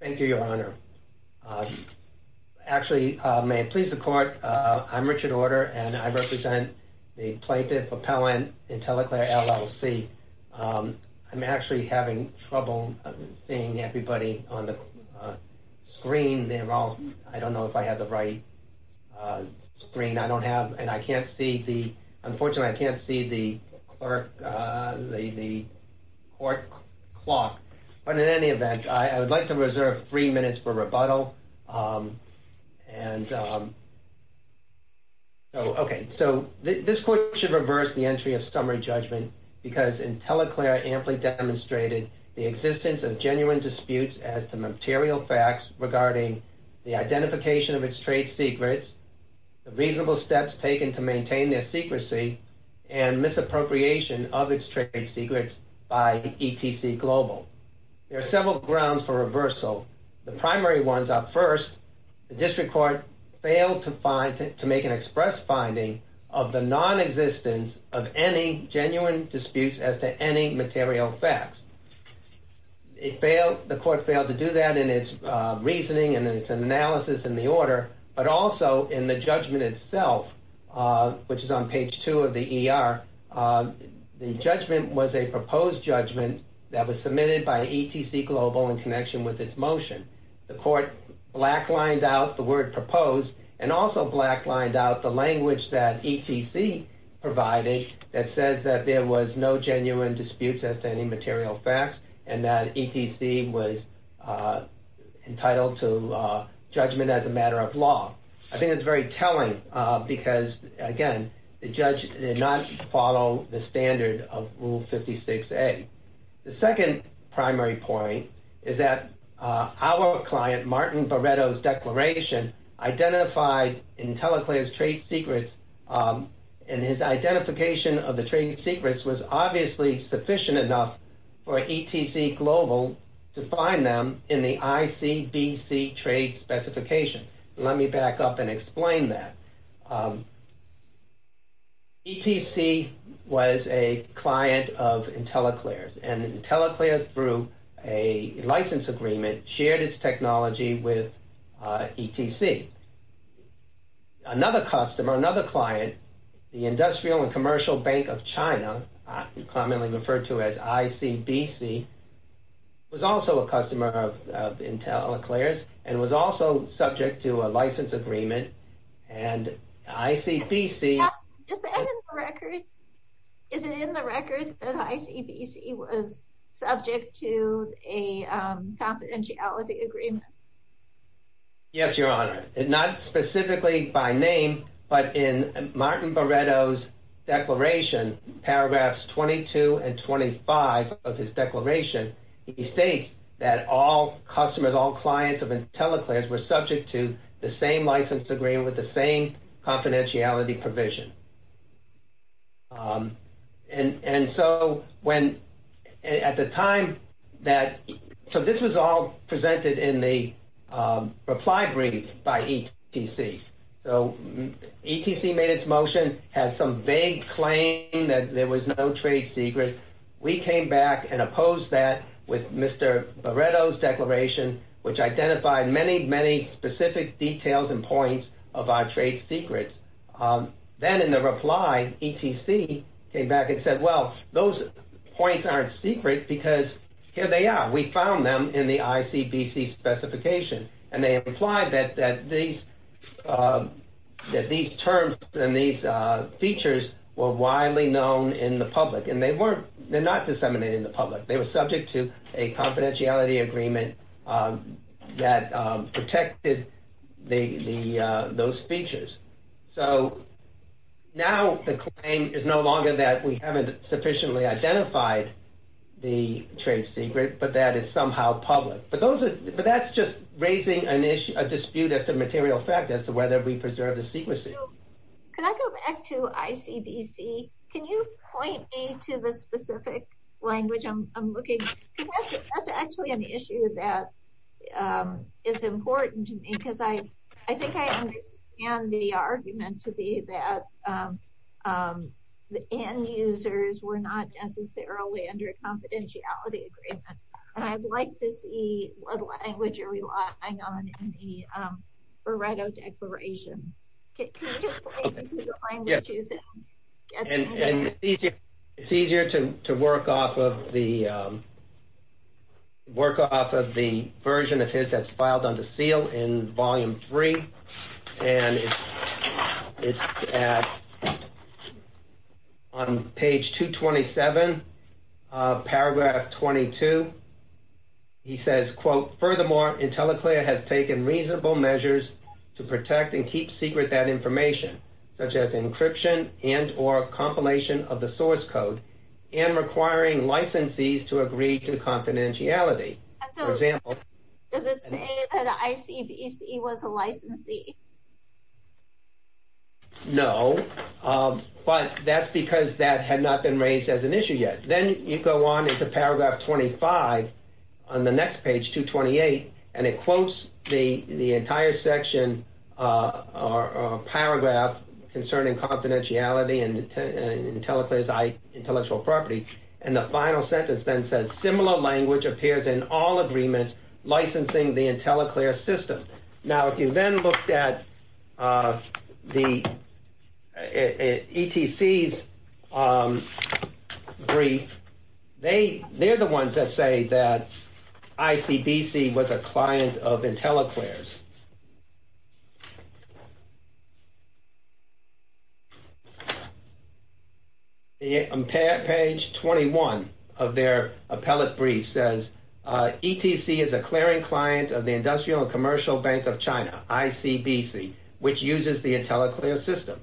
Thank you, Your Honor. Actually, may it please the court, I'm Richard Order and I represent the Plaintiff Appellant Intelliclear, LLC. I'm actually having trouble seeing everybody on the screen. They're all, I don't know if I have the right screen. I don't have and I can't see the, clerk, the court clock. But in any event, I would like to reserve three minutes for rebuttal. And so, okay, so this court should reverse the entry of summary judgment because Intelliclear amply demonstrated the existence of genuine disputes as to material facts regarding the identification of its trade secrets, the reasonable steps taken to maintain their secrecy, and misappropriation of its trade secrets by ETC Global. There are several grounds for reversal. The primary ones are first, the district court failed to find, to make an express finding of the non-existence of any genuine disputes as to any material facts. It failed, the court failed to do that in its reasoning and its analysis in the order, but also in the judgment itself, which is on page two of the ER. The judgment was a proposed judgment that was submitted by ETC Global in connection with this motion. The court black lined out the word proposed and also black lined out the language that ETC provided that says that there was no genuine disputes as to any material facts and that ETC was entitled to judgment as a law. I think that's very telling because again, the judge did not follow the standard of rule 56A. The second primary point is that our client, Martin Barretto's declaration identified Intelliclear's trade secrets and his identification of the trade secrets was obviously sufficient enough for ETC Global to find them in the ICBC trade specification. Let me back up and explain that. ETC was a client of Intelliclear's and Intelliclear's through a license agreement shared its technology with ETC. Another customer, another client, the Industrial and Commercial Bank of China, commonly referred to as ICBC, was also a customer of Intelliclear's and was also subject to a license agreement and ICBC... Is it in the record that ICBC was subject to a confidentiality agreement? Yes, Your Honor. Not specifically by name, but in Martin Barretto's declaration, paragraphs 22 and 25 of his declaration, he states that all customers, all clients of Intelliclear's were subject to the same license agreement with the same confidentiality provision. This was all presented in the reply brief by ETC. ETC made its motion, had some vague claim that there was no trade secret. We came back and opposed that with Mr. Barretto's declaration, which identified many, many specific details and points of our trade secrets. Then in the reply, ETC came back and said, well, those points aren't secret because here they are. We found them in the ICBC specification. And they implied that these terms and these features were widely known in the public and they're not disseminated in the public. They were subject to a confidentiality agreement that protected those features. So now the claim is no longer that we haven't sufficiently identified the trade secret, but that it's somehow public. But that's just raising a dispute as to the material fact as whether we preserve the secrecy. Can I go back to ICBC? Can you point me to the specific language I'm looking at? That's actually an issue that is important to me because I think I understand the argument to be that the end users were not necessarily under a confidentiality agreement. I'd like to see what language you're relying on in the Barretto declaration. It's easier to work off of the version of his that's filed under seal in volume three. And it's on page 227, paragraph 22. He says, quote, furthermore, IntelliClear has taken reasonable measures to protect and keep secret that information, such as encryption and or compilation of the source code and requiring licensees to agree to confidentiality. So does it say that ICBC was a licensee? No, but that's because that had not been raised as an issue yet. Then you go on into paragraph 25 on the next page, 228, and it quotes the entire section or paragraph concerning confidentiality and IntelliClear's intellectual property. And the final sentence then says, similar language appears in all agreements licensing the IntelliClear system. Now, if you then looked at the ETC's brief, they're the ones that say that ICBC was a client of IntelliClear's. On page 21 of their appellate brief says, ETC is a clearing client of the Industrial and Commercial Bank of China, ICBC, which uses the IntelliClear system.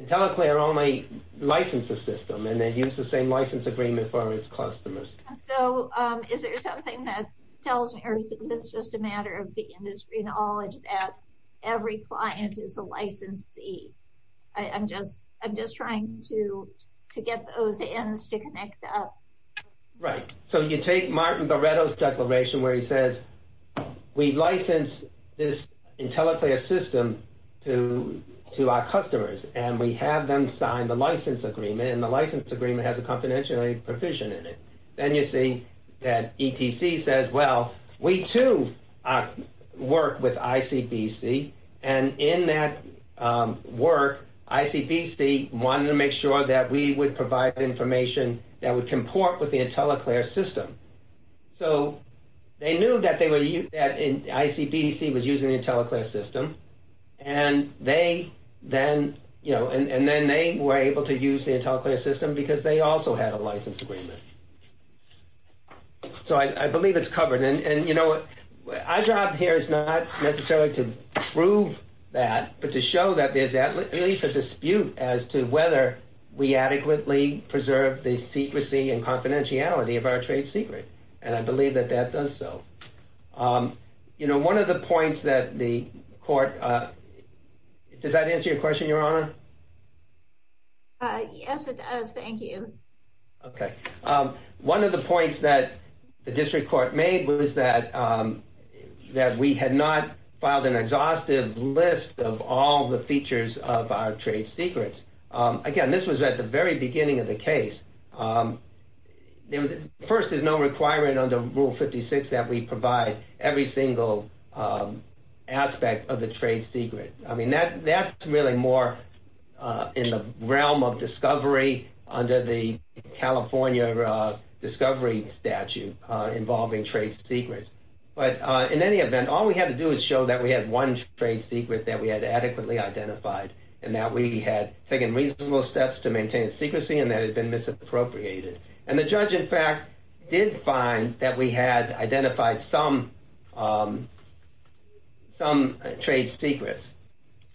IntelliClear only licensed the system and they use the same license agreement for its customers. So is there something that tells me or is it just a matter of the industry knowledge that every client is a licensee? I'm just trying to get those ends to connect up. Right. So you take Martin Goretto's declaration where he says, we license this IntelliClear system to our customers and we have them sign the license agreement and the license agreement has a confidentiality provision in it. Then you see that ETC says, well, we too work with ICBC and in that work, ICBC wanted to make sure that we would provide information that would comport with the IntelliClear system. So they knew that ICBC was using the IntelliClear system and then they were able to use the IntelliClear system because they also had a license agreement. So I believe it's covered. And you know, our job here is not necessarily to prove that, but to show that there's at least a dispute as to whether we adequately preserve the secrecy and confidentiality of our trade secret. And I believe that that does so. You know, one of the points that the court, does that answer your question, Your Honor? Yes, it does. Thank you. Okay. One of the points that the district court made was that we had not filed an exhaustive list of all the features of our trade secrets. Again, this was at the very beginning of the case. There was, first, there's no requirement under Rule 56 that we provide every single aspect of the trade secret. I mean, that's really more in the realm of discovery under the California discovery statute involving trade secrets. But in any event, all we had to do is show that we had one trade secret that we had adequately identified and that we had taken reasonable steps to maintain secrecy and that had been misappropriated. And the judge, in fact, did find that we had identified some trade secrets.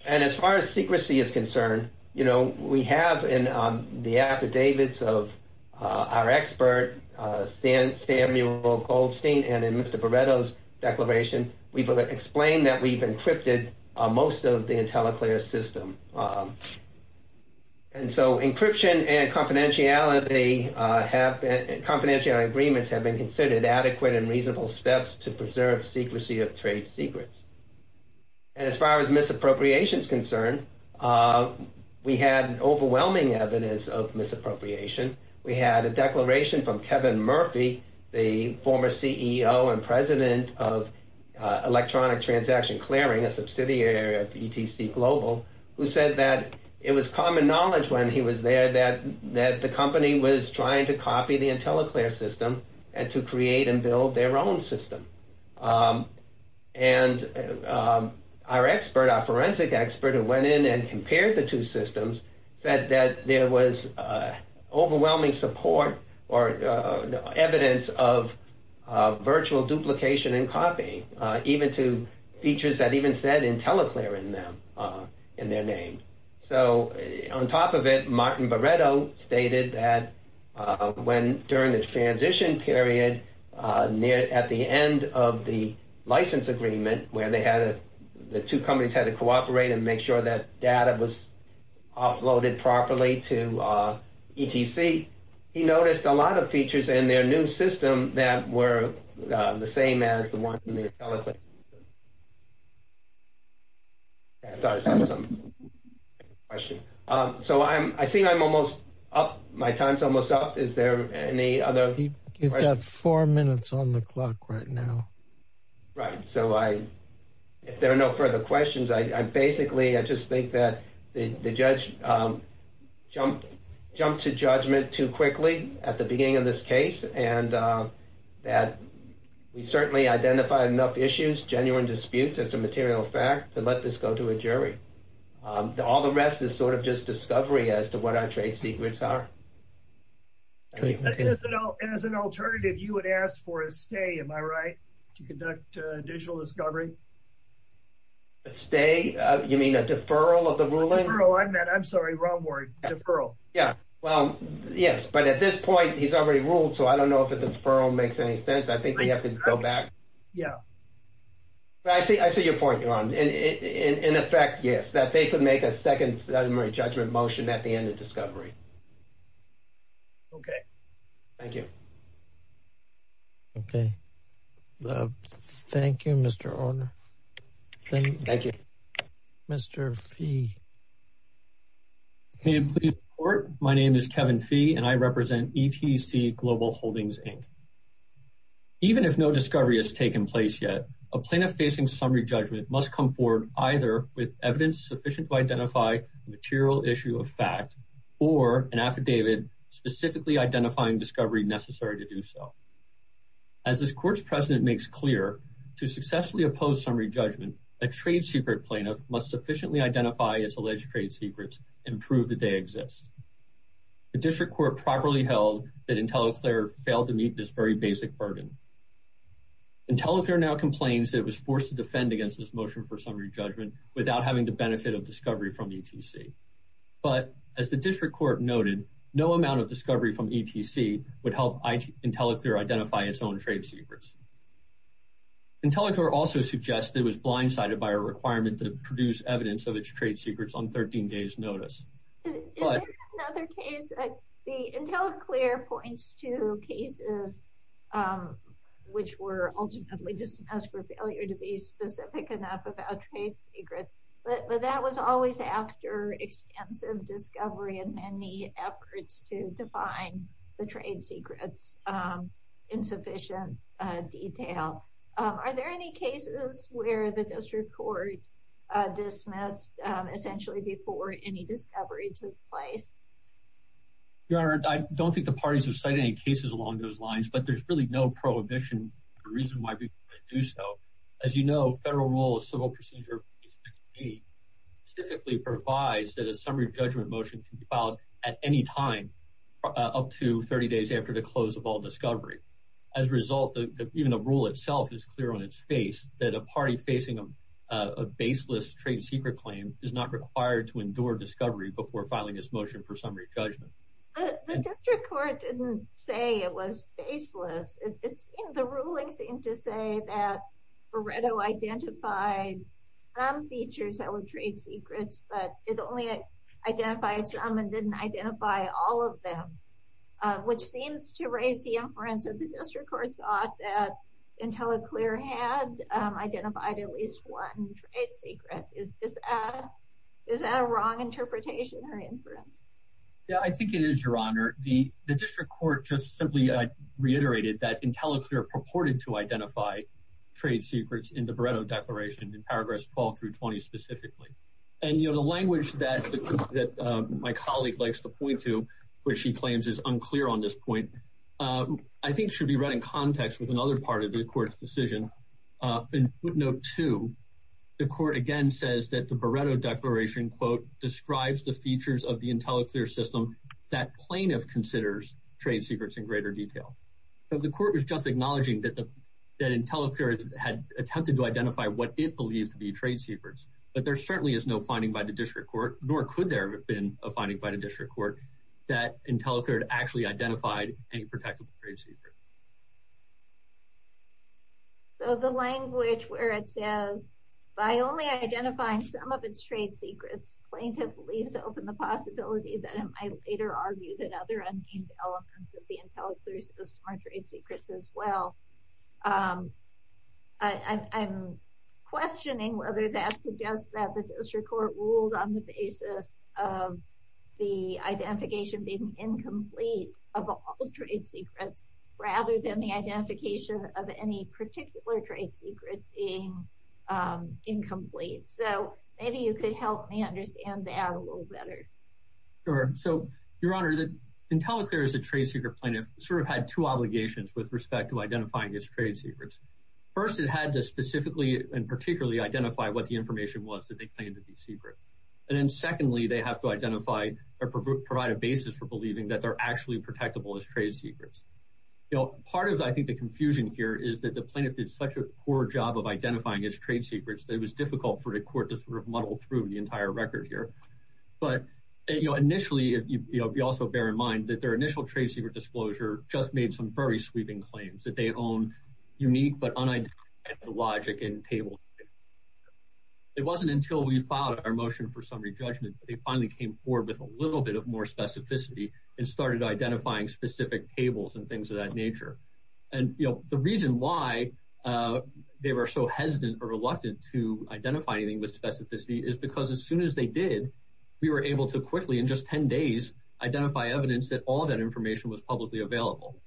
And as far as secrecy is concerned, you know, we have in the affidavits of our expert, Samuel Goldstein, and in Mr. Baretto's system. And so encryption and confidentiality have been, confidential agreements have been considered adequate and reasonable steps to preserve secrecy of trade secrets. And as far as misappropriation is concerned, we had overwhelming evidence of misappropriation. We had a declaration from Kevin Murphy, the former CEO and president of Electronic Transaction Clearing, a subsidiary of ETC Global, who said that it was common knowledge when he was there that the company was trying to copy the IntelliClear system and to create and build their own system. And our forensic expert who went in and compared the two systems said that there was overwhelming support or evidence of virtual duplication and copying, even to features that even said IntelliClear in their name. So on top of it, Martin Baretto stated that during the transition period at the end of the license agreement where the two companies had to cooperate and make sure that data was offloaded properly to ETC, he noticed a lot of features in their new system that were the same as the ones in the IntelliClear system. So I'm, I think I'm almost up, my time's almost up. Is there any other? You've got four minutes on the clock right now. Right, so I, if there are no further questions, I basically, I just think that the judge jumped to judgment too quickly at the beginning of this case and that we certainly identified enough issues, genuine disputes, as a material fact to let this go to a jury. All the rest is sort of just discovery as to what our trade secrets are. As an alternative, you would ask for a stay, am I right, to conduct additional discovery? A stay? You mean a deferral of the ruling? I'm sorry, wrong word, deferral. Yeah, well, yes, but at this point he's already ruled, so I don't know if a deferral makes any sense. I think we have to go back. Yeah. But I see your point, Ron, and in effect, yes, that they could make a second summary judgment motion at the end of discovery. Okay. Thank you. Okay. Thank you, Mr. Orner. Thank you. Mr. Fee. Can you please report? My name is Kevin Fee and I represent ETC Global Holdings, Inc. Even if no discovery has taken place yet, a plaintiff facing summary judgment must come either with evidence sufficient to identify a material issue of fact or an affidavit specifically identifying discovery necessary to do so. As this court's president makes clear, to successfully oppose summary judgment, a trade secret plaintiff must sufficiently identify its alleged trade secrets and prove that they exist. The district court properly held that IntelliClear failed to meet this very basic burden. IntelliClear now complains it was forced to defend against this summary judgment without having the benefit of discovery from ETC. But as the district court noted, no amount of discovery from ETC would help IntelliClear identify its own trade secrets. IntelliClear also suggests it was blindsided by a requirement to produce evidence of its trade secrets on 13 days notice. Is there another case? IntelliClear points to cases which were ultimately dismissed for failure to be specific enough about trade secrets, but that was always after extensive discovery and many efforts to define the trade secrets in sufficient detail. Are there any cases where the district court dismissed essentially before any discovery took place? Your Honor, I don't think the parties have cited any cases along those lines, but there's really no prohibition. The reason why we do so, as you know, federal rules, civil procedure specifically provides that a summary judgment motion can be filed at any time up to 30 days after the close of all discovery. As a result, even a rule itself is clear on its face that a party facing a baseless trade secret claim is not required to endure discovery before filing its motion for summary judgment. The district court didn't say it was faceless. The ruling seemed to say that Beretto identified some features that were trade secrets, but it only identified some and didn't identify all of them, which seems to raise the inference that the district court thought that IntelliClear had identified at least one trade secret. Is that a wrong interpretation or inference? Yeah, I think it is, Your Honor. The district court just simply reiterated that IntelliClear purported to identify trade secrets in the Beretto Declaration in paragraphs 12 through 20 specifically. The language that my colleague likes to point to, which she claims is unclear on this point, I think should be read in context with other part of the court's decision. In footnote two, the court again says that the Beretto Declaration, quote, describes the features of the IntelliClear system that plaintiff considers trade secrets in greater detail. But the court was just acknowledging that IntelliClear had attempted to identify what it believed to be trade secrets, but there certainly is no finding by the district court, nor could there have been a finding by the district court, that IntelliClear actually identified any protectable trade secret. So the language where it says, by only identifying some of its trade secrets, plaintiff believes to open the possibility that it might later argue that other unnamed elements of the IntelliClear system are trade secrets as well. I'm questioning whether that suggests that the district court ruled on the basis of the identification being incomplete of all trade secrets, rather than the identification of any particular trade secret being incomplete. So maybe you could help me understand that a little better. Sure. So, Your Honor, IntelliClear as a trade secret plaintiff sort of had two obligations with respect to identifying its trade secrets. First, it had to specifically and particularly identify what the information was that they believed to be secret. And then secondly, they have to identify or provide a basis for believing that they're actually protectable as trade secrets. You know, part of, I think, the confusion here is that the plaintiff did such a poor job of identifying its trade secrets that it was difficult for the court to sort of muddle through the entire record here. But, you know, initially, you also bear in mind that their initial trade secret disclosure just made some very sweeping claims that they own unique but unidentified logic and tables. It wasn't until we filed our motion for summary judgment that they finally came forward with a little bit of more specificity and started identifying specific tables and things of that nature. And, you know, the reason why they were so hesitant or reluctant to identify anything with specificity is because as soon as they did, we were able to quickly, in just 10 days, identify evidence that all that information was publicly available.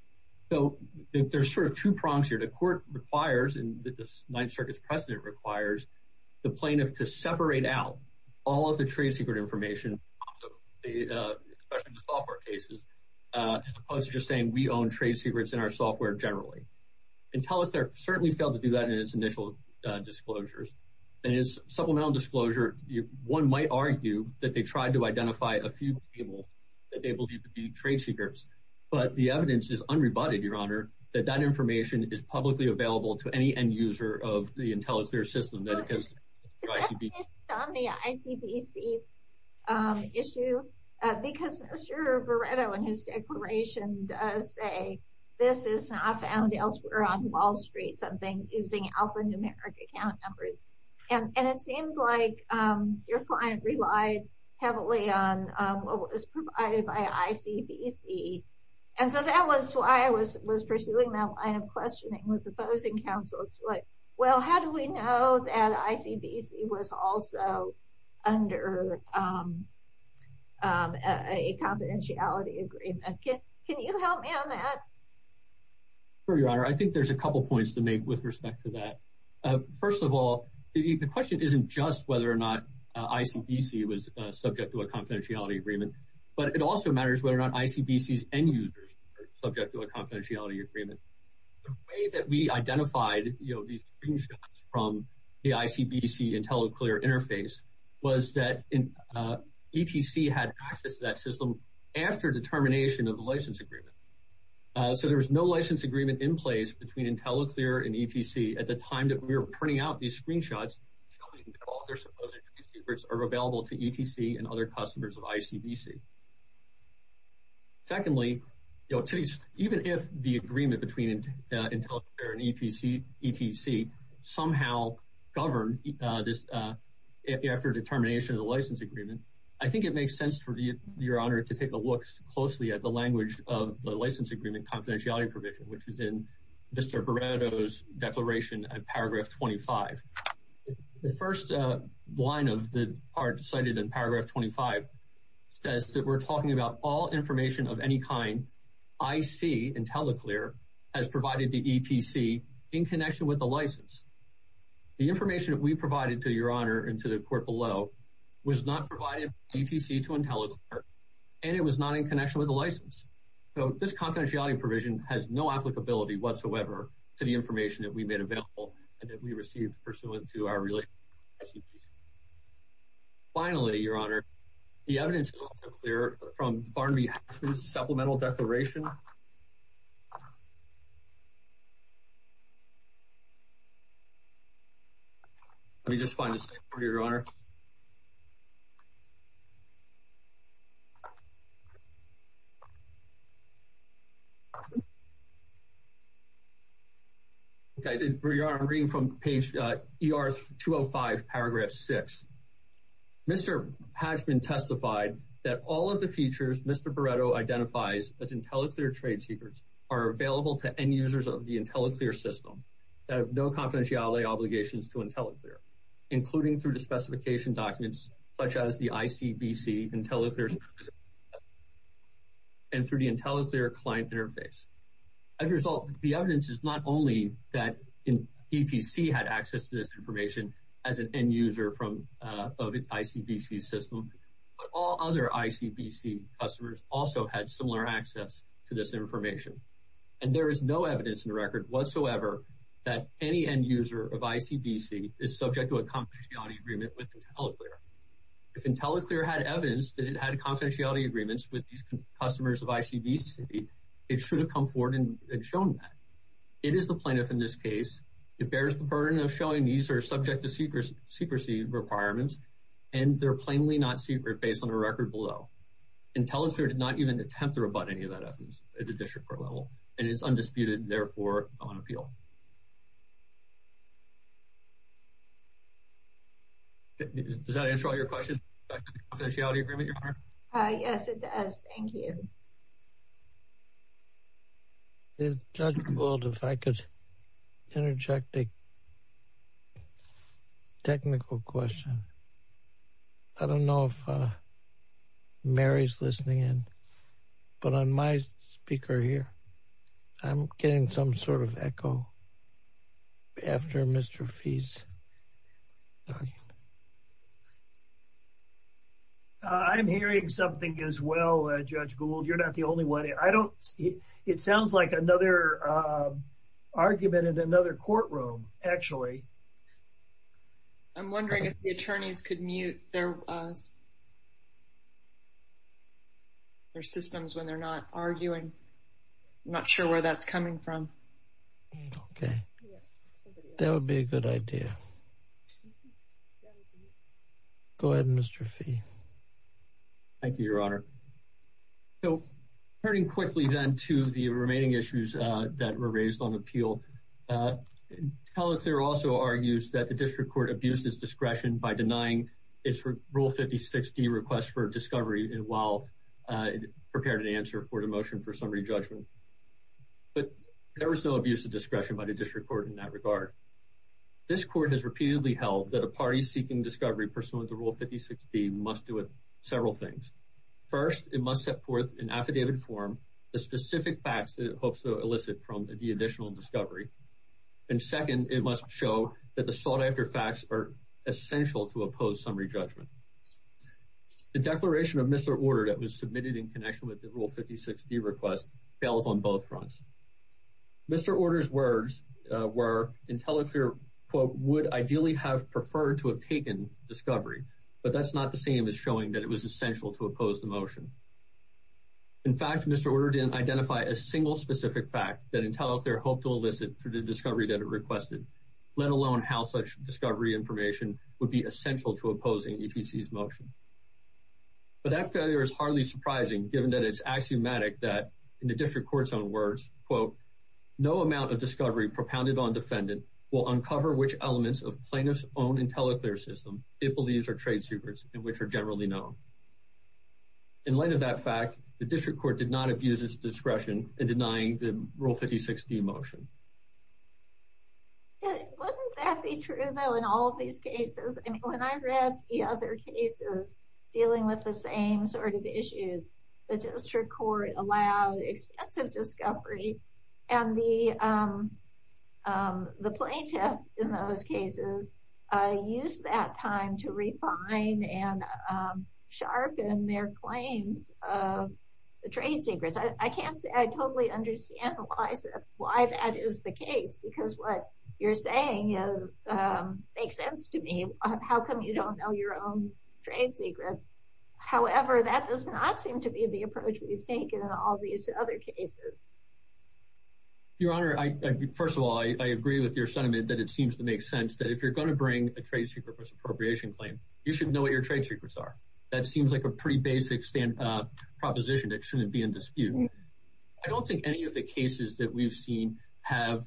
So there's sort of two prongs here. The court requires, and the Ninth Circuit's precedent requires, the plaintiff to separate out all of the trade secret information, especially in the software cases, as opposed to just saying, we own trade secrets in our software generally. Intellithere certainly failed to do that in its initial disclosures. In its supplemental disclosure, one might argue that they tried to identify a few tables that but the evidence is unrebutted, Your Honor, that that information is publicly available to any end user of the Intellithere system that is on the ICBC issue because Mr. Veretto in his declaration does say this is not found elsewhere on Wall Street, something using alphanumeric account numbers. And it seems like your client relied heavily on what was provided by ICBC and so that was why I was pursuing that line of questioning with the opposing counsel. It's like, well, how do we know that ICBC was also under a confidentiality agreement? Can you help me on that? Sure, Your Honor. I think there's a couple points to make with respect to that. First of all, the question isn't just whether or not ICBC was subject to a confidentiality agreement, but it also matters whether or not ICBC's end users are subject to a confidentiality agreement. The way that we identified these screenshots from the ICBC Intellithere interface was that ETC had access to that system after determination of the license agreement. So there was no license agreement in place between Intellithere and ETC at the time that we were printing out these screenshots showing that all their supposed trade secrets are available to ETC and other customers of ICBC. Secondly, even if the agreement between Intellithere and ETC somehow governed after determination of the license agreement, I think it makes sense for you, Your Honor, to take a look closely at the language of the license agreement confidentiality provision, which is in Mr. Barreto's declaration at paragraph 25. The first line of the part cited in paragraph 25 says that we're talking about all information of any kind IC, Intellithere, has provided to ETC in connection with the license. The information that we provided to Your Honor and to the court below was not provided by ETC to Intellithere, and it was not in connection with the license. So this confidentiality provision has no applicability whatsoever to the information that we made available and that we received pursuant to our relationship. Finally, Your Honor, the evidence is also clear from Barnaby Hatcher's supplemental declaration. Let me just find the second part, Your Honor. Okay, Your Honor, reading from page ER-205, paragraph 6, Mr. Hatchman testified that all of the features Mr. Barreto identifies as Intellithere trade secrets are available to end-users of the Intellithere system that have no confidentiality obligations to Intellithere, including through the specification documents such as the ICBC Intellithere and through the Intellithere client interface. As a result, the evidence is not only that ETC had access to this information, but ICBC customers also had similar access to this information. And there is no evidence in the record whatsoever that any end-user of ICBC is subject to a confidentiality agreement with Intellithere. If Intellithere had evidence that it had confidentiality agreements with these customers of ICBC, it should have come forward and shown that. It is the plaintiff in this case. It bears the burden of showing these are subject to secrecy requirements, and they're plainly not secret based on the record below. Intellithere did not even attempt to rebut any of that evidence at the district court level, and it's undisputed, therefore, not on appeal. Does that answer all your questions about confidentiality agreement, Your Honor? Uh, yes, it does. Thank you. Is Judge Gould, if I could interject a technical question. I don't know if, uh, Mary's listening in, but on my speaker here, I'm getting some sort of echo after Mr. Fee's. I'm hearing something as well, Judge Gould. You're not the only one. I don't, it sounds like another, uh, argument in another courtroom, actually. I'm wondering if the attorneys could mute their, uh, their systems when they're not arguing. I'm not sure where that's coming from. Okay. That would be a good idea. Go ahead, Mr. Fee. Thank you, Your Honor. So, turning quickly, then, to the remaining issues, uh, that were raised on appeal, uh, Intellithere also argues that the district court abused its discretion by denying its Rule 56d request for discovery while, uh, prepared an answer for the motion for summary judgment. But there was no abuse of discretion by the district court in that regard. This court has repeatedly held that a party seeking discovery pursuant to Rule 56b must not several things. First, it must set forth in affidavit form the specific facts that it hopes to elicit from the additional discovery. And second, it must show that the sought-after facts are essential to oppose summary judgment. The declaration of Mr. Order that was submitted in connection with the Rule 56d request fails on both fronts. Mr. Order's words, uh, were Intellithere, quote, would ideally have preferred to have taken discovery, but that's not the same as showing that it was essential to oppose the motion. In fact, Mr. Order didn't identify a single specific fact that Intellithere hoped to elicit through the discovery that it requested, let alone how such discovery information would be essential to opposing ETC's motion. But that failure is hardly surprising, given that it's axiomatic that, in the district court's own words, quote, no amount of discovery propounded on defendant will uncover which elements of plaintiff's Intellithere system it believes are trade secrets and which are generally known. In light of that fact, the district court did not abuse its discretion in denying the Rule 56d motion. Wouldn't that be true, though, in all of these cases? I mean, when I read the other cases dealing with the same sort of issues, the district court allowed extensive discovery, and the plaintiff in those cases used that time to refine and sharpen their claims of the trade secrets. I can't say I totally understand why that is the case, because what you're saying makes sense to me. How come you don't know your own trade secrets? However, that does not seem to be the approach we've taken in all these other cases. Your Honor, first of all, I agree with your sentiment that it seems to make sense that if you're going to bring a trade secret misappropriation claim, you should know what your trade secrets are. That seems like a pretty basic proposition that shouldn't be in dispute. I don't think any of the cases that we've seen have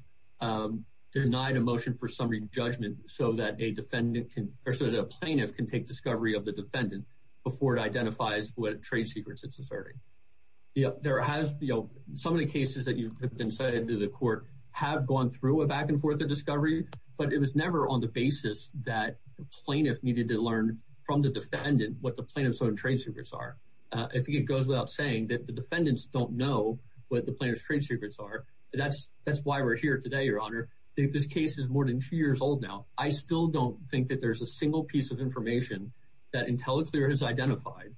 denied a motion for summary judgment so that a defendant can or so that a plaintiff can take discovery of the defendant before it identifies what trade secrets it's asserting. Some of the cases that have been cited to the court have gone through a back and forth of discovery, but it was never on the basis that the plaintiff needed to learn from the defendant what the plaintiff's own trade secrets are. I think it goes without saying that the defendants don't know what the plaintiff's trade secrets are. That's why we're here today, Your Honor. I think this case is more than two years old now. I still don't think that there's a single piece of information that IntelliClear has identified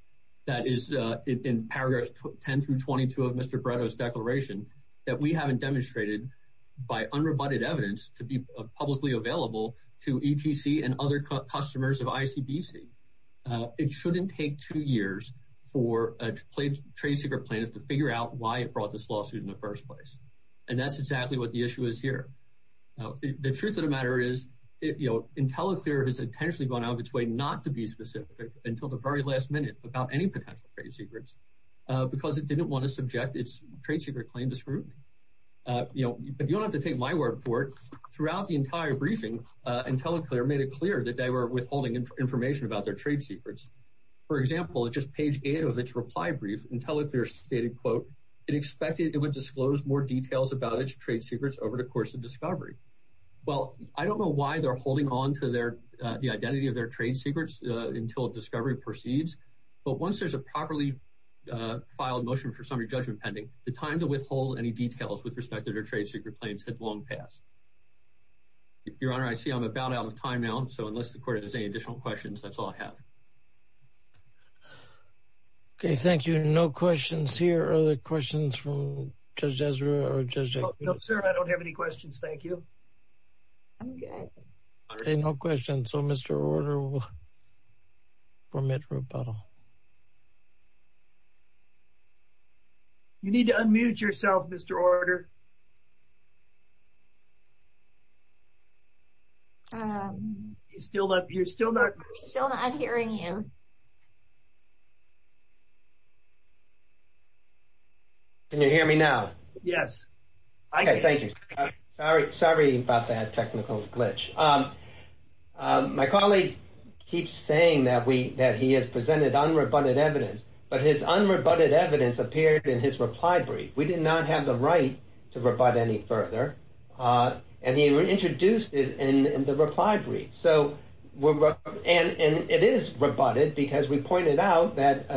that is in paragraphs 10 through 22 of Mr. Bretto's declaration that we haven't demonstrated by unrebutted evidence to be publicly available to ETC and other customers of ICBC. It shouldn't take two years for a trade secret plaintiff to figure out why it brought this lawsuit in the first place, and that's exactly what the issue is here. The truth of the matter is, IntelliClear has intentionally gone out of its way not to be specific until the very last minute about any potential trade secrets because it didn't want to subject its trade secret claim to scrutiny. If you don't have to take my word for it, throughout the entire briefing, IntelliClear made it clear that they were withholding information about their trade secrets. For example, at just page 8 of its reply brief, IntelliClear stated, it expected it would disclose more details about its trade secrets over the course of discovery. Well, I don't know why they're holding on to the identity of their trade secrets until discovery proceeds, but once there's a properly filed motion for summary judgment pending, the time to withhold any details with respect to their trade secret claims had long passed. Your Honor, I see I'm about out of time now, so unless the court has any additional questions, that's all I have. Okay, thank you. No questions here. Are there questions from Judge Ezra or Judge Agnew? No, sir, I don't have any questions. Thank you. Okay, no questions, so Mr. Order will permit rebuttal. You need to unmute yourself, Mr. Order. I'm still not hearing you. Can you hear me now? Yes. Okay, thank you. Sorry about that technical glitch. My colleague keeps saying that he has presented unrebutted evidence, but his unrebutted evidence appeared in his reply brief. We did not have the right to rebut any further, and he introduced it in the reply brief, and it is rebutted because we pointed out that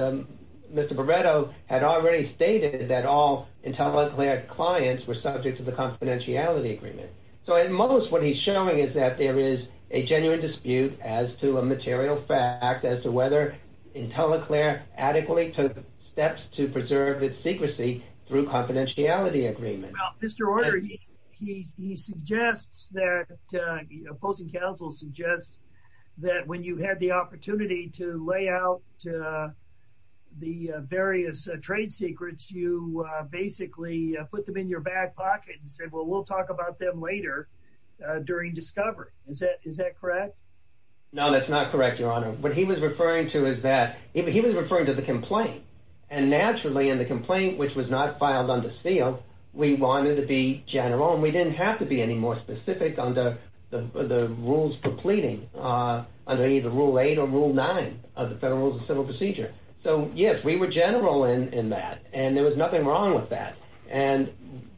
Mr. Barretto had already stated that all IntelliClear clients were subject to the confidentiality agreement. So at most, what he's showing is that there is a genuine dispute as to a material fact as to whether IntelliClear adequately took steps to Mr. Order, he suggests that opposing counsel suggests that when you had the opportunity to lay out the various trade secrets, you basically put them in your back pocket and said, well, we'll talk about them later during discovery. Is that correct? No, that's not correct, Your Honor. What he was referring to is that he was referring to the complaint, and naturally in the complaint, which was not filed under Steele, we wanted to be general, and we didn't have to be any more specific under the rules completing under either Rule 8 or Rule 9 of the Federal Rules of Civil Procedure. So yes, we were general in that, and there was nothing wrong with that, and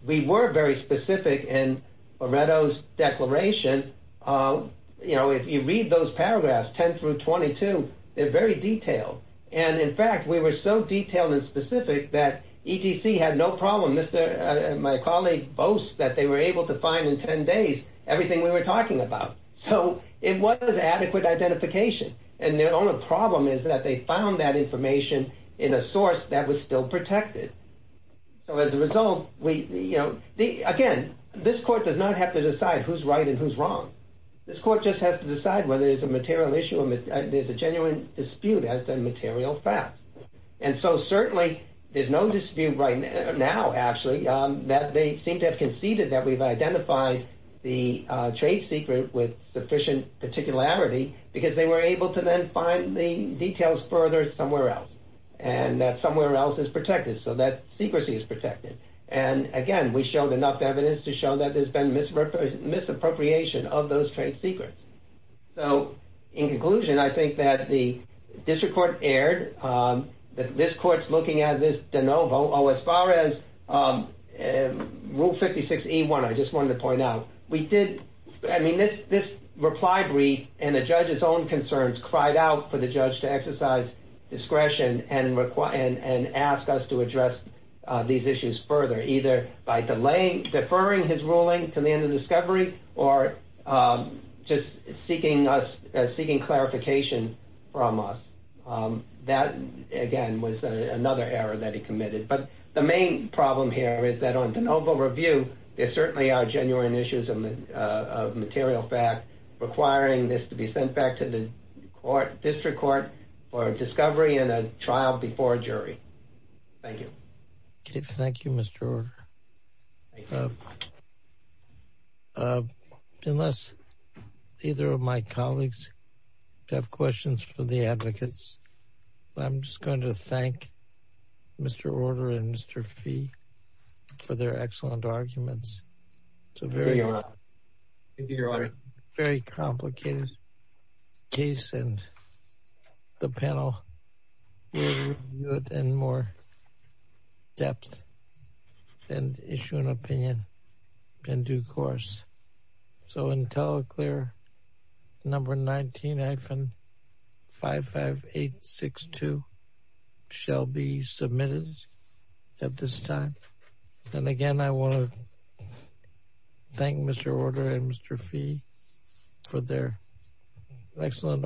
we were very specific in Barretto's declaration. You know, if you read those paragraphs, 10 through 22, they're very detailed, and in fact, we were so detailed and specific that EDC had no problem. My colleague boasts that they were able to find in 10 days everything we were talking about. So it was adequate identification, and their only problem is that they found that information in a source that was still protected. So as a result, again, this court does not have to decide who's right and who's wrong. This court just has to decide whether it's a material issue or there's a genuine dispute as to material facts. And so certainly, there's no dispute right now, actually, that they seem to have conceded that we've identified the trade secret with sufficient particularity because they were able to then find the details further somewhere else, and that somewhere else is protected, so that secrecy is protected. And again, we showed enough evidence to show that there's been misappropriation of those trade secrets. So in conclusion, I think that the district court erred, that this court's looking at this de novo. Oh, as far as Rule 56E1, I just wanted to point out, we did, I mean, this reply brief and the judge's own concerns cried out for the judge to exercise discretion and ask us to address these issues further, either by deferring his ruling to the end of discovery or just seeking us, seeking clarification from us. That, again, was another error that he committed. But the main problem here is that on de novo review, there certainly are genuine issues of material fact requiring this to be sent back to the court, district court, for discovery and a trial before a jury. Thank you. Okay, thank you, Mr. Orr. Unless either of my colleagues have questions for the advocates, I'm just going to thank Mr. Orr and Mr. Fee for their excellent arguments. It's a very, thank you, Your Honor. Very complicated case, and the panel will review it in more depth and issue an opinion in due course. So until a clear number 19-55862 shall be submitted at this time. And again, I want to thank Mr. Orr and Mr. Fee for their excellent arguments.